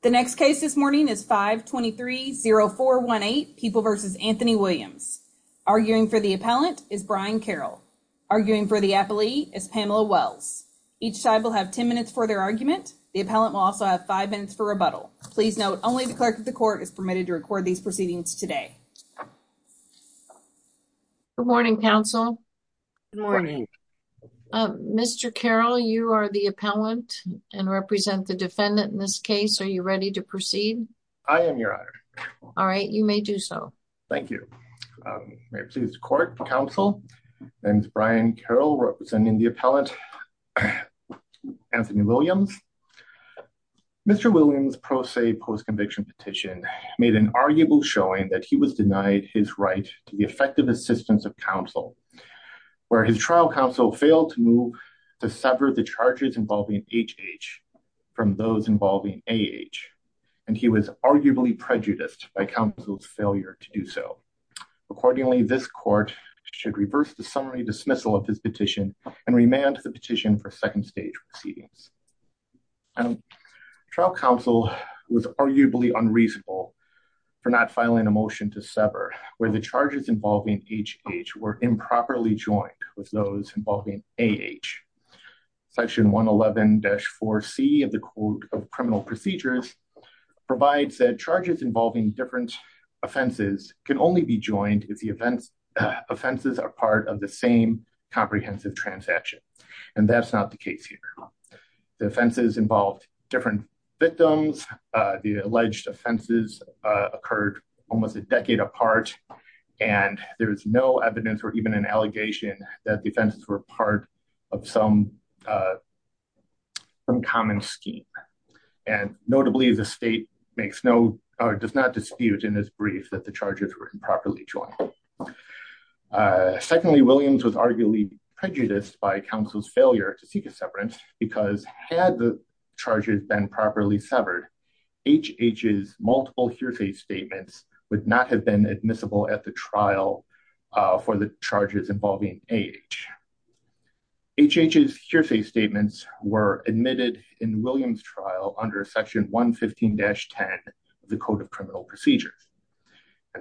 The next case this morning is 523-0418, People v. Anthony Williams. Arguing for the appellant is Brian Carroll. Arguing for the appellee is Pamela Wells. Each side will have 10 minutes for their argument. The appellant will also have 5 minutes for rebuttal. Please note, only the clerk of the court is permitted to record these proceedings today. Good morning, counsel. Good morning. Mr. Carroll, you are the appellant and represent the defendant in this case. Are you ready to proceed? I am, Your Honor. All right, you may do so. Thank you. May it please the court, counsel. My name is Brian Carroll, representing the appellant, Anthony Williams. Mr. Williams' pro se post-conviction petition made an arguable showing that he was denied his right to the effective assistance of counsel, where his trial counsel failed to move to sever the charges involving HH from those involving AH, and he was arguably prejudiced by counsel's failure to do so. Accordingly, this court should reverse the summary dismissal of his petition and remand the petition for second stage proceedings. Trial counsel was arguably unreasonable for not filing a motion to sever, where the charges involving HH were improperly joined with those involving AH. Section 111-4C of the Code of Criminal Procedures provides that charges involving different offenses can only be joined if the offenses are part of the same comprehensive transaction. And that's not the case here. The offenses involved different victims. The alleged offenses occurred almost a decade apart, and there is no evidence or even an allegation that the offenses were part of some common scheme. And notably, the state does not dispute in this brief that the charges were improperly joined. Secondly, Williams was arguably prejudiced by counsel's failure to seek a severance because had the charges been properly severed, HH's multiple hearsay statements would not have been admissible at the trial for the charges involving AH. HH's hearsay statements were admitted in Williams' trial under Section 115-10 of the Code of Criminal Procedures.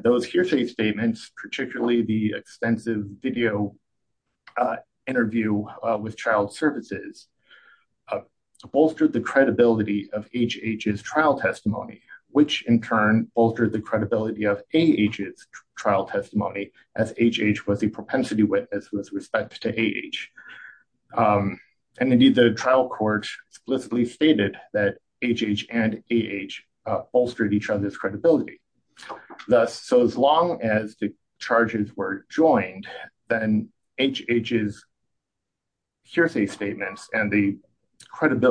Those hearsay statements, particularly the extensive video interview with child services, bolstered the credibility of HH's trial testimony, which in turn altered the credibility of AH's trial testimony, as HH was a propensity witness with respect to AH. And indeed, the trial court explicitly stated that HH and AH bolstered each other's credibility. Thus, so as long as the charges were joined, then HH's hearsay statements and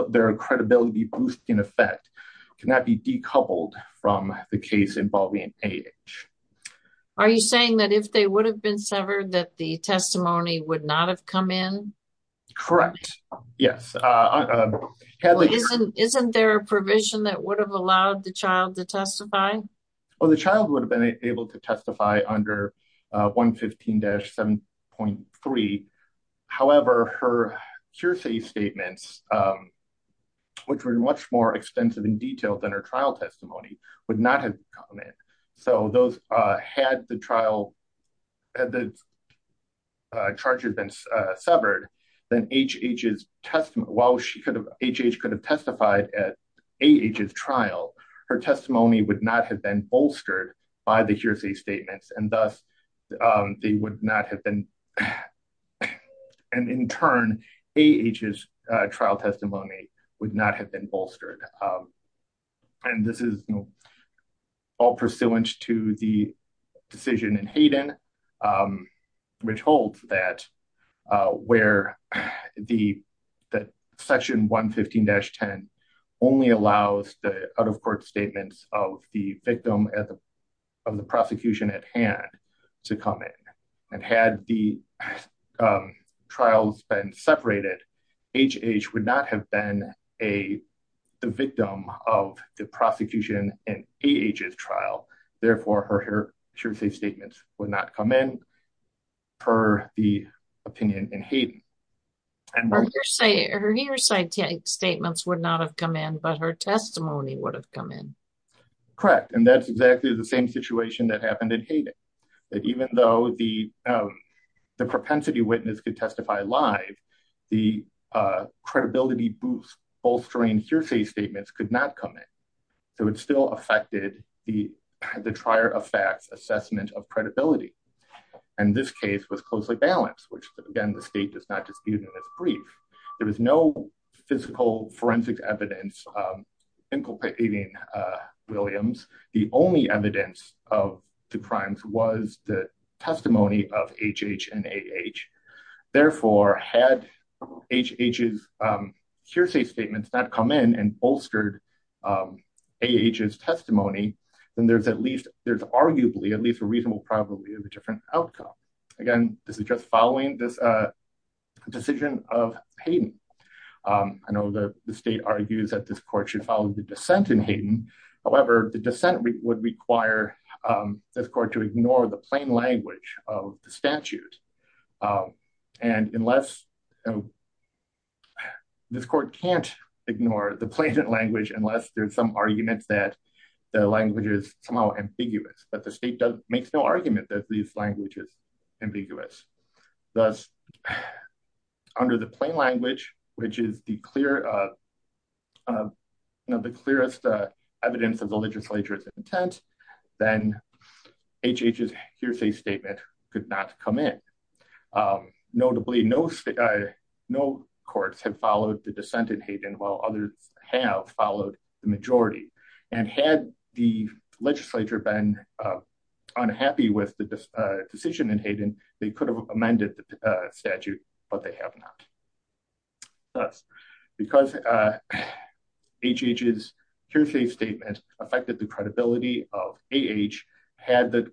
their credibility boost, in effect, cannot be decoupled from the case involving AH. Are you saying that if they would have been severed that the testimony would not have come in? Correct. Yes. Isn't there a provision that would have allowed the child to testify? The child would have been able to testify under 115-7.3. However, her hearsay statements, which were much more extensive and detailed than her trial testimony, would not have come in. So had the charges been severed, then HH could have testified at AH's trial. Her testimony would not have been bolstered by the hearsay statements, and thus, they would not have been. And in turn, AH's trial testimony would not have been bolstered. And this is all pursuant to the decision in Hayden, which holds that Section 115-10 only allows the out-of-court statements of the victim of the prosecution at hand to come in. And had the trials been separated, HH would not have been the victim of the prosecution in AH's trial. Therefore, her hearsay statements would not come in, per the opinion in Hayden. Her hearsay statements would not have come in, but her testimony would have come in. Correct. And that's exactly the same situation that happened in Hayden. That even though the propensity witness could testify live, the credibility boost bolstering hearsay statements could not come in. So it still affected the trier of facts assessment of credibility. And this case was closely balanced, which, again, the state does not dispute in its brief. There was no physical forensic evidence inculcating Williams. The only evidence of the crimes was the testimony of HH and AH. Therefore, had HH's hearsay statements not come in and bolstered AH's testimony, then there's at least there's arguably at least a reasonable probability of a different outcome. Again, this is just following this decision of Hayden. I know the state argues that this court should follow the dissent in Hayden. However, the dissent would require this court to ignore the plain language of the statute. And unless this court can't ignore the plain language, unless there's some arguments that the language is somehow ambiguous, but the state makes no argument that these languages are ambiguous. Thus, under the plain language, which is the clear, the clearest evidence of the legislature's intent, then HH's hearsay statement could not come in. Notably, no courts have followed the dissent in Hayden, while others have followed the majority. And had the legislature been unhappy with the decision in Hayden, they could have amended the statute, but they have not. Thus, because HH's hearsay statement affected the credibility of AH, had the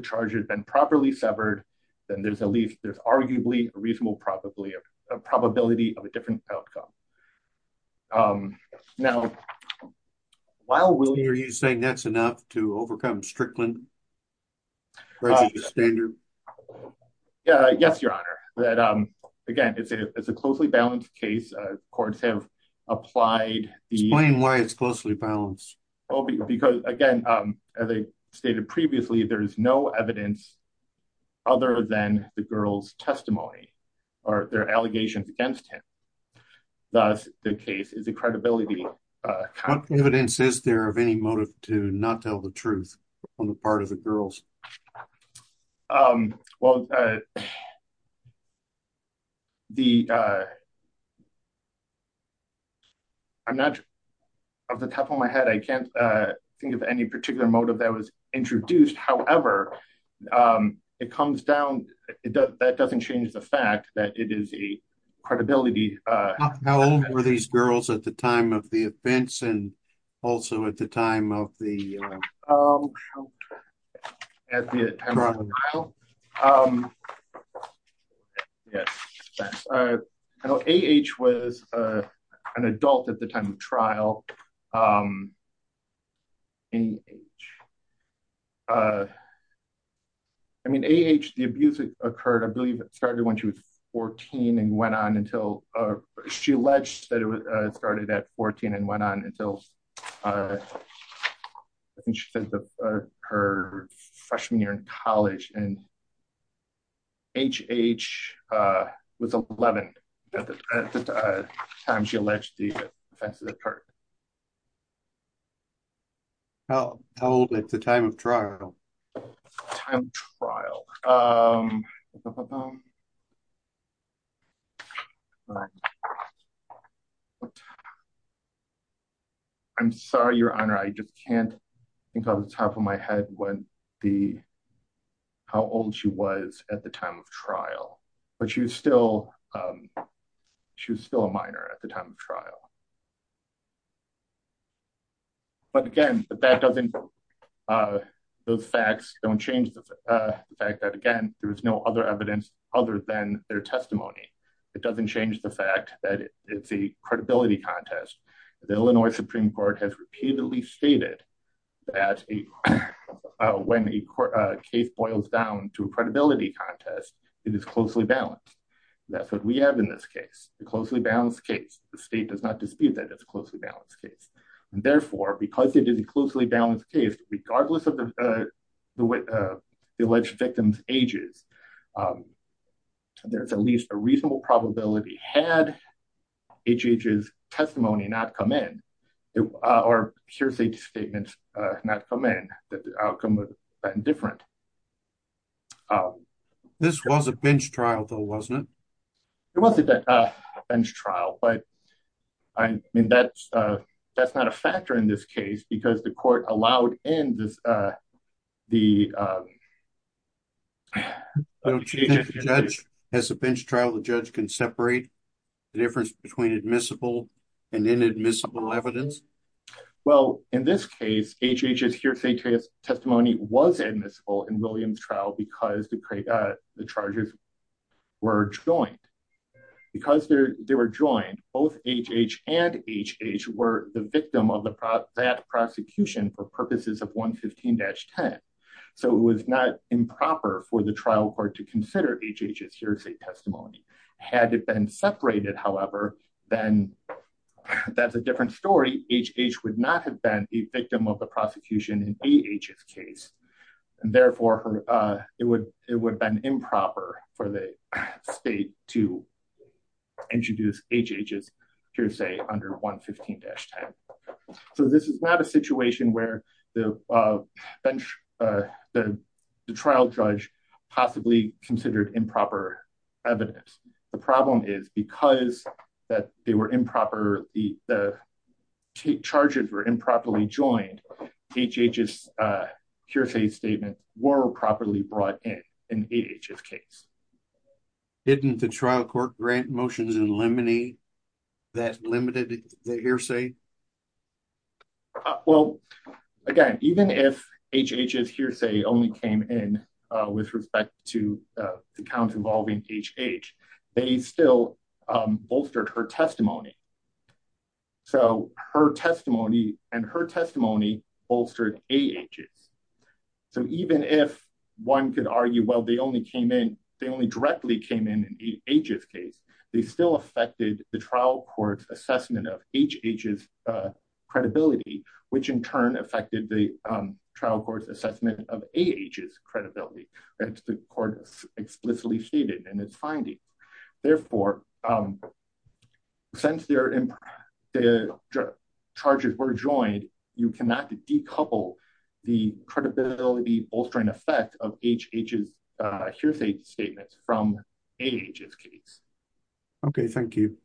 charges been properly severed, then there's at least there's arguably a reasonable probability of a probability of a different outcome. Now, are you saying that's enough to overcome Strickland? Yes, Your Honor. Again, it's a closely balanced case. Courts have applied... Explain why it's closely balanced. Because, again, as I stated previously, there is no evidence other than the girl's testimony or their allegations against him. Thus, the case is a credibility... What evidence is there of any motive to not tell the truth on the part of the girls? Well, the... I'm not... Off the top of my head, I can't think of any particular motive that was introduced. However, it comes down... That doesn't change the fact that it is a credibility... How old were these girls at the time of the events and also at the time of the... At the time of the trial? Yes. AH was an adult at the time of trial. AH... I mean, AH, the abuse occurred, I believe, started when she was 14 and went on until... She alleged that it started at 14 and went on until her freshman year in college. And AH was 11 at the time she alleged the offenses occurred. How old at the time of trial? Time of trial... I'm sorry, Your Honor, I just can't think off the top of my head when the... How old she was at the time of trial, but she was still... She was still a minor at the time of trial. But again, that doesn't... Those facts don't change the fact that, again, there is no other evidence other than their testimony. It doesn't change the fact that it's a credibility contest. The Illinois Supreme Court has repeatedly stated that when a case boils down to a credibility contest, it is closely balanced. That's what we have in this case, a closely balanced case. The state does not dispute that it's a closely balanced case. And therefore, because it is a closely balanced case, regardless of the alleged victim's ages, there's at least a reasonable probability, had AH's testimony not come in, or hearsay statements not come in, that the outcome would have been different. This was a bench trial, though, wasn't it? It wasn't a bench trial, but I mean, that's not a factor in this case, because the court allowed in the... As a bench trial, the judge can separate the difference between admissible and inadmissible evidence? Well, in this case, HH's hearsay testimony was admissible in William's trial because the charges were joined. Because they were joined, both HH and HH were the victim of that prosecution for purposes of 115-10. So it was not improper for the trial court to consider HH's hearsay testimony. Had it been separated, however, then that's a different story. HH would not have been the victim of the prosecution in AH's case. And therefore, it would have been improper for the state to introduce HH's hearsay under 115-10. So this is not a situation where the trial judge possibly considered improper evidence. The problem is, because the charges were improperly joined, HH's hearsay statements were properly brought in in AH's case. Didn't the trial court grant motions in Lemony that limited the hearsay? Well, again, even if HH's hearsay only came in with respect to the counts involving HH, they still bolstered her testimony. So her testimony and her testimony bolstered AH's. So even if one could argue, well, they only came in, they only directly came in in AH's case, they still affected the trial court's assessment of HH's credibility, which in turn affected the trial court's assessment of AH's credibility. The court explicitly stated in its finding. Therefore, since the charges were joined, you cannot decouple the credibility bolstering effect of HH's hearsay statements from AH's case. Okay, thank you.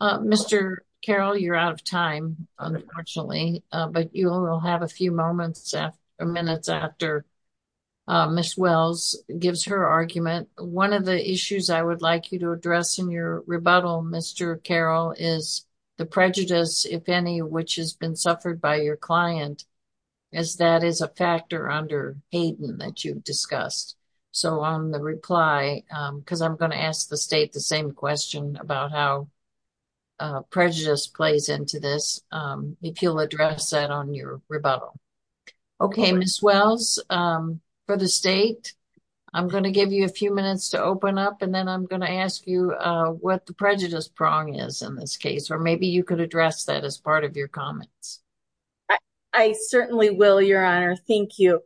Mr. Carroll, you're out of time, unfortunately, but you will have a few moments or minutes after Ms. Wells gives her argument. One of the issues I would like you to address in your rebuttal, Mr. Carroll, is the prejudice, if any, which has been suffered by your client, as that is a factor under Hayden that you've discussed. So on the reply, because I'm going to ask the state the same question about how prejudice plays into this, if you'll address that on your rebuttal. Okay, Ms. Wells, for the state, I'm going to give you a few minutes to open up, and then I'm going to ask you what the prejudice prong is in this case, or maybe you could address that as part of your comments. I certainly will, Your Honor. Thank you.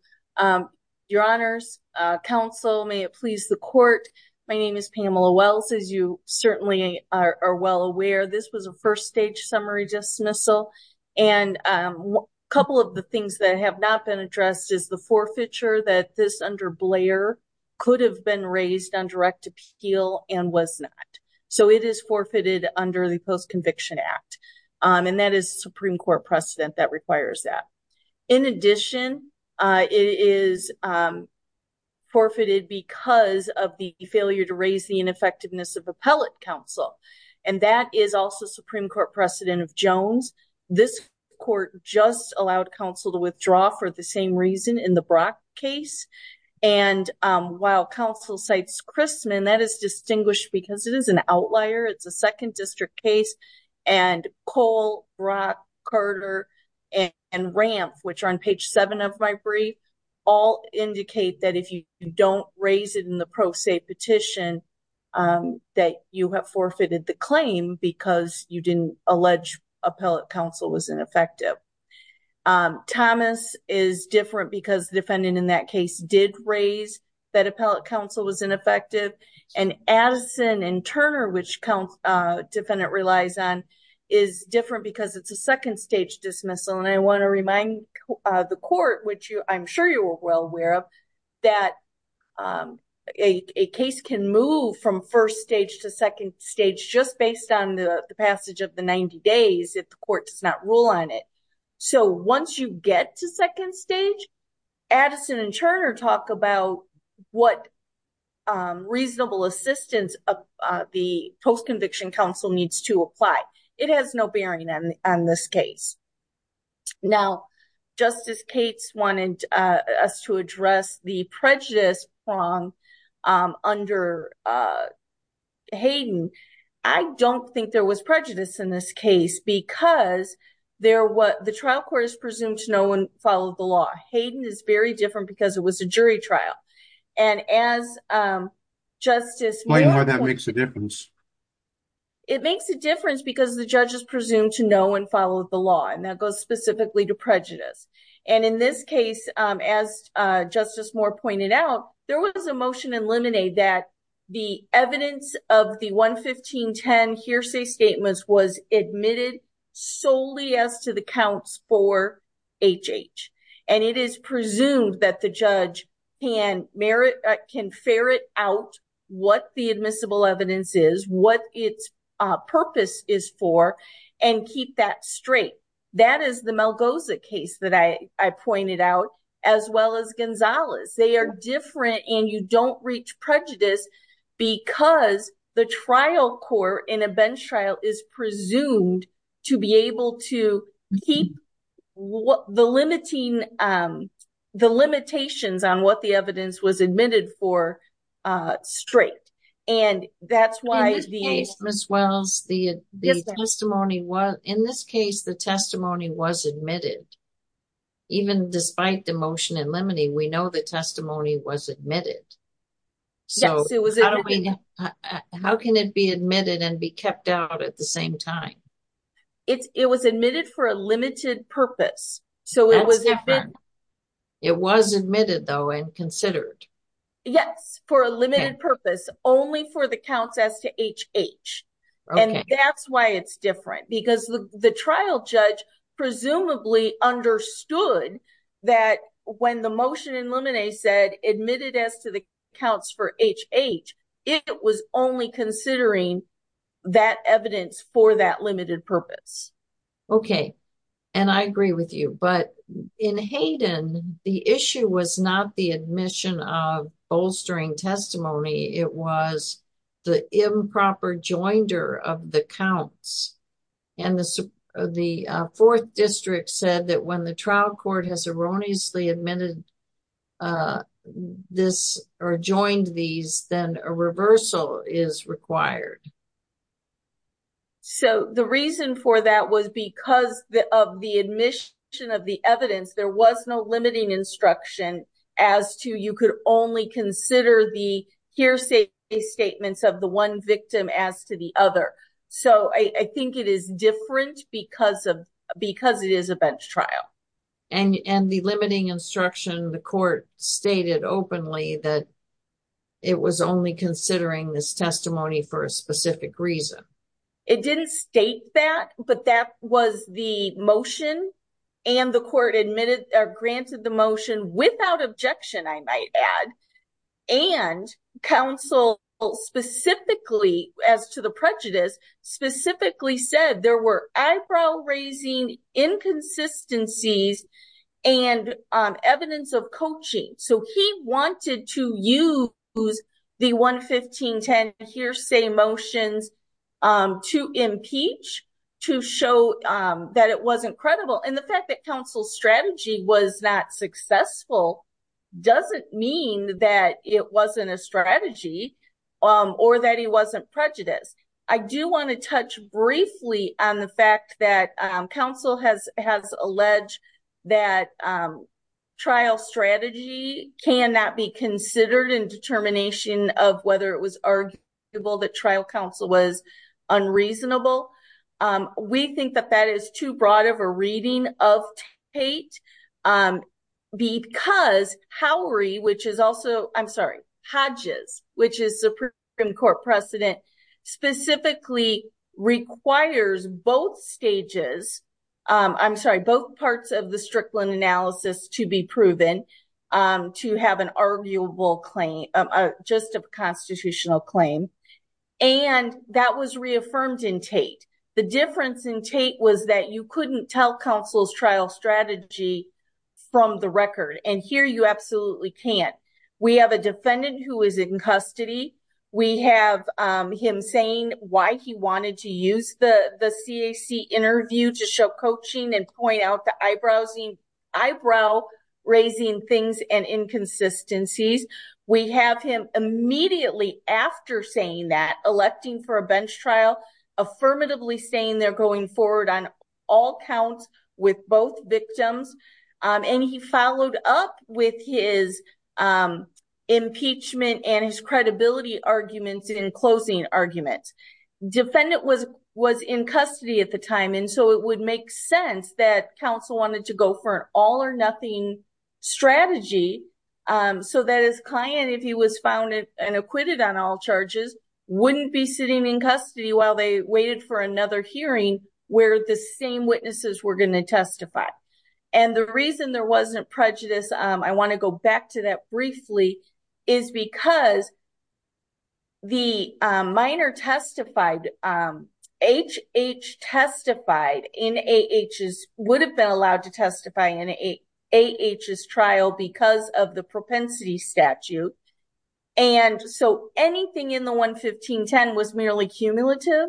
Your Honors, Counsel, may it please the Court, my name is Pamela Wells, as you certainly are well aware. This was a first-stage summary dismissal, and a couple of the things that have not been addressed is the forfeiture that this, under Blair, could have been raised on direct appeal and was not. So it is forfeited under the Post-Conviction Act, and that is a Supreme Court precedent that requires that. In addition, it is forfeited because of the failure to raise the ineffectiveness of appellate counsel, and that is also Supreme Court precedent of Jones. This court just allowed counsel to withdraw for the same reason in the Brock case, and while counsel cites Christman, that is distinguished because it is an outlier, it's a second district case, and Cole, Brock, Carter, and Ramph, which are on page 7 of my brief, all indicate that if you don't raise it in the pro se petition, that you have forfeited the claim because you didn't allege appellate counsel was ineffective. Thomas is different because the defendant in that case did raise that appellate counsel was ineffective, and Addison and Turner, which the defendant relies on, is different because it's a second stage dismissal, and I want to remind the court, which I'm sure you are well aware of, that a case can move from first stage to second stage just based on the passage of the 90 days if the court does not rule on it. So once you get to second stage, Addison and Turner talk about what reasonable assistance the post-conviction counsel needs to apply. It has no bearing on this case. Now, Justice Cates wanted us to address the prejudice prong under Hayden. I don't think there was prejudice in this case because the trial court is presumed to know and follow the law. Hayden is very different because it was a jury trial. And as Justice Moore pointed out... Explain why that makes a difference. It makes a difference because the judge is presumed to know and follow the law, and that goes specifically to prejudice. And in this case, as Justice Moore pointed out, there was a motion in Lemonade that the evidence of the 11510 hearsay statements was admitted solely as to the counts for HH. And it is presumed that the judge can ferret out what the admissible evidence is, what its purpose is for, and keep that straight. That is the Malgoza case that I pointed out, as well as Gonzalez. They are different, and you don't reach prejudice because the trial court in a bench trial is presumed to be able to keep the limitations on what the evidence was admitted for straight. And that's why the... In this case, Ms. Wells, the testimony was... In this case, the testimony was admitted. Even despite the motion in Lemonade, we know the testimony was admitted. Yes, it was admitted. How can it be admitted and be kept out at the same time? It was admitted for a limited purpose. That's different. It was admitted, though, and considered. Yes, for a limited purpose, only for the counts as to HH. And that's why it's different. Because the trial judge presumably understood that when the motion in Lemonade said admitted as to the counts for HH, it was only considering that evidence for that limited purpose. Okay. And I agree with you. But in Hayden, the issue was not the admission of bolstering testimony. It was the improper joinder of the counts. And the Fourth District said that when the trial court has erroneously admitted this or joined these, then a reversal is required. So the reason for that was because of the admission of the evidence, there was no limiting instruction as to you could only consider the hearsay statements of the one victim as to the other. So I think it is different because it is a bench trial. And the limiting instruction, the court stated openly that it was only considering this testimony for a specific reason. It didn't state that, but that was the motion. And the court admitted or granted the motion without objection, I might add. And counsel specifically, as to the prejudice, specifically said there were eyebrow-raising inconsistencies and evidence of coaching. So he wanted to use the 11510 hearsay motions to impeach, to show that it wasn't credible. And the fact that counsel's strategy was not successful doesn't mean that it wasn't a strategy or that he wasn't prejudiced. I do want to touch briefly on the fact that counsel has alleged that trial strategy cannot be considered in determination of whether it was arguable that trial counsel was unreasonable. We think that that is too broad of a reading of Tate because Howry, which is also, I'm sorry, specifically requires both stages, I'm sorry, both parts of the Strickland analysis to be proven to have an arguable claim, just a constitutional claim. And that was reaffirmed in Tate. The difference in Tate was that you couldn't tell counsel's trial strategy from the record. And here you absolutely can't. We have a defendant who is in custody. We have him saying why he wanted to use the CAC interview to show coaching and point out the eyebrow-raising things and inconsistencies. We have him immediately after saying that electing for a bench trial affirmatively saying they're going forward on all counts with both victims. And he followed up with his impeachment and his credibility arguments in closing arguments. Defendant was in custody at the time, and so it would make sense that counsel wanted to go for an all-or-nothing strategy so that his client, if he was found and acquitted on all charges, wouldn't be sitting in custody while they waited for another hearing where the same witnesses were going to testify. And the reason there wasn't prejudice, I want to go back to that briefly, is because the minor testified, H.H. testified in A.H.'s, would have been allowed to testify in A.H.'s trial because of the propensity statute, and so anything in the 11510 was merely cumulative.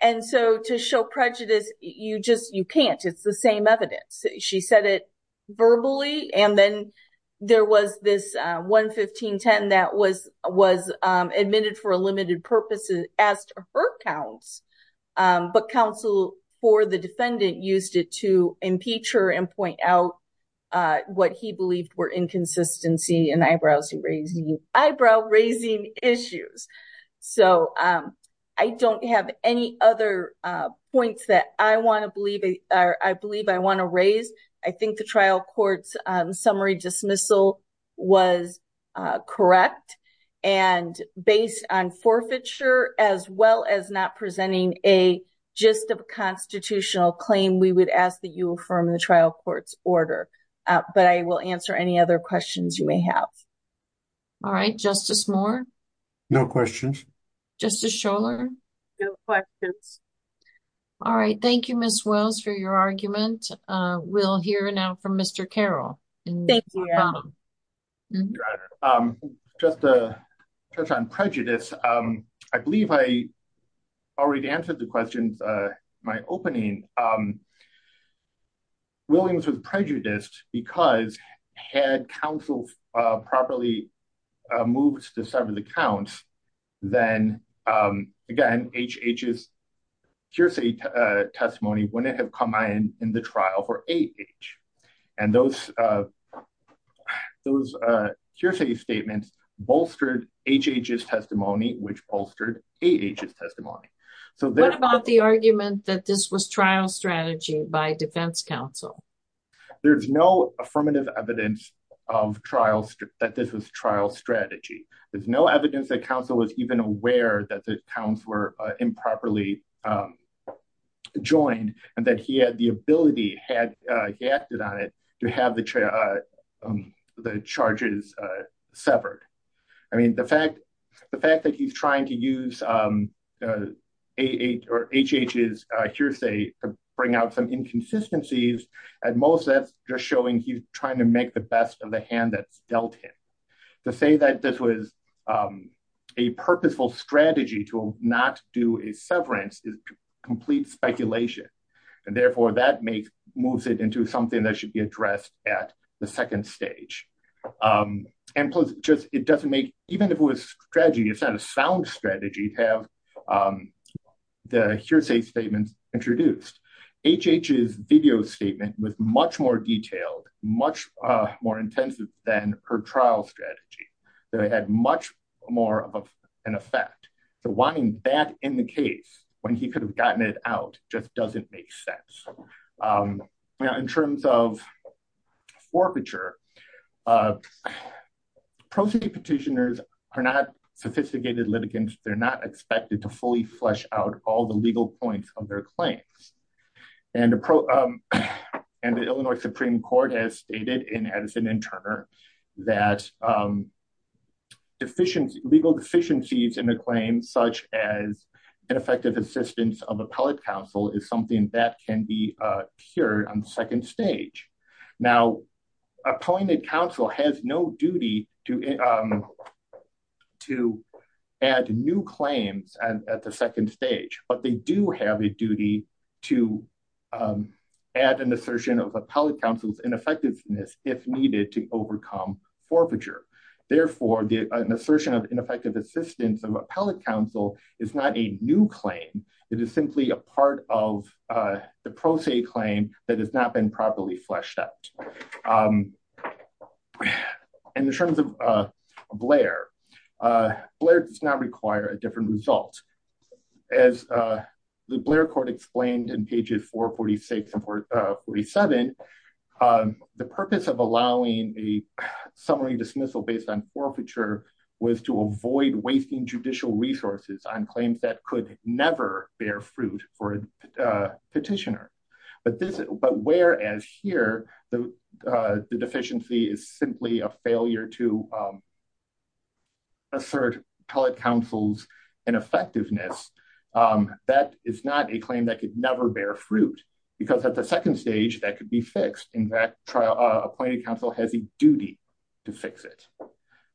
And so to show prejudice, you can't. It's the same evidence. She said it verbally, and then there was this 11510 that was admitted for a limited purpose and asked for her counts, but counsel for the defendant used it to impeach her and point out what he believed were inconsistency and eyebrow-raising issues. So I don't have any other points that I want to believe or I believe I want to raise. I think the trial court's summary dismissal was correct, and based on forfeiture as well as not presenting a gist of a constitutional claim, we would ask that you affirm the trial court's order. But I will answer any other questions you may have. All right. Justice Moore? No questions. Justice Scholar? No questions. All right. Thank you, Ms. Wells, for your argument. We'll hear now from Mr. Carroll. Thank you, Adam. Just to touch on prejudice, I believe I already answered the question in my opening. Williams was prejudiced because had counsel properly moved to several accounts, then, again, HH's hearsay testimony wouldn't have come in in the trial for 8H. And those hearsay statements bolstered HH's testimony, which bolstered 8H's testimony. What about the argument that this was trial strategy by defense counsel? There's no affirmative evidence that this was trial strategy. There's no evidence that counsel was even aware that the accounts were improperly joined and that he had the ability, he acted on it, to have the charges severed. I mean, the fact that he's trying to use 8H's hearsay to bring out some inconsistencies, at most, that's just showing he's trying to make the best of the hand that's dealt him. To say that this was a purposeful strategy to not do a severance is complete speculation. And, therefore, that moves it into something that should be addressed at the second stage. And plus, just, it doesn't make, even if it was strategy, it's not a sound strategy to have the hearsay statements introduced. HH's video statement was much more detailed, much more intensive than her trial strategy. So it had much more of an effect. So wanting that in the case when he could have gotten it out just doesn't make sense. In terms of forfeiture, pro se petitioners are not sophisticated litigants. They're not expected to fully flesh out all the legal points of their claims. And the Illinois Supreme Court has stated in Edison and Turner that legal deficiencies in a claim such as ineffective assistance of appellate counsel is something that can be cured on the second stage. Now, appointed counsel has no duty to add new claims at the second stage. But they do have a duty to add an assertion of appellate counsel's ineffectiveness, if needed, to overcome forfeiture. Therefore, an assertion of ineffective assistance of appellate counsel is not a new claim. It is simply a part of the pro se claim that has not been properly fleshed out. In terms of Blair, Blair does not require a different result. As the Blair court explained in pages 446 and 47, the purpose of allowing a summary dismissal based on forfeiture was to avoid wasting judicial resources on claims that could never bear fruit for a petitioner. But whereas here the deficiency is simply a failure to assert appellate counsel's ineffectiveness, that is not a claim that could never bear fruit. Because at the second stage, that could be fixed. In fact, appointed counsel has a duty to fix it.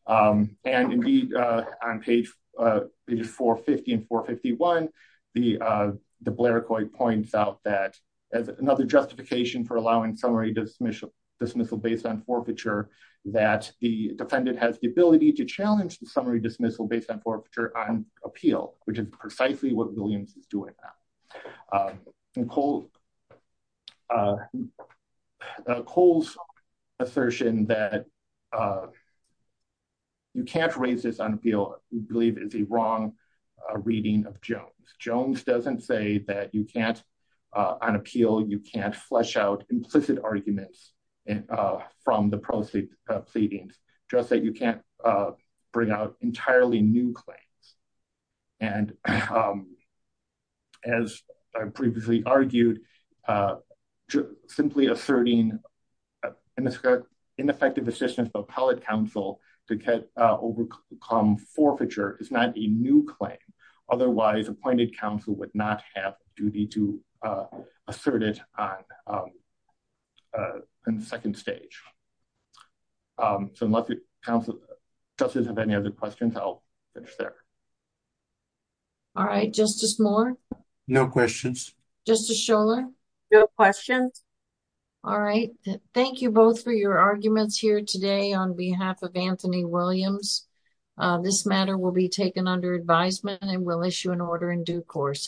And indeed, on page 450 and 451, the Blair court points out that as another justification for allowing summary dismissal based on forfeiture, that the defendant has the ability to challenge the summary dismissal based on forfeiture on appeal, which is precisely what Williams is doing now. And Cole's assertion that you can't raise this on appeal, we believe, is a wrong reading of Jones. Jones doesn't say that you can't on appeal, you can't flesh out implicit arguments from the proceedings, just that you can't bring out entirely new claims. And as I previously argued, simply asserting ineffective assistance of appellate counsel to overcome forfeiture is not a new claim. Otherwise, appointed counsel would not have a duty to assert it on the second stage. So unless you have any other questions, I'll finish there. All right, Justice Moore? No questions. Justice Scholar? No questions. All right. Thank you both for your arguments here today on behalf of Anthony Williams. This matter will be taken under advisement and will issue an order in due course.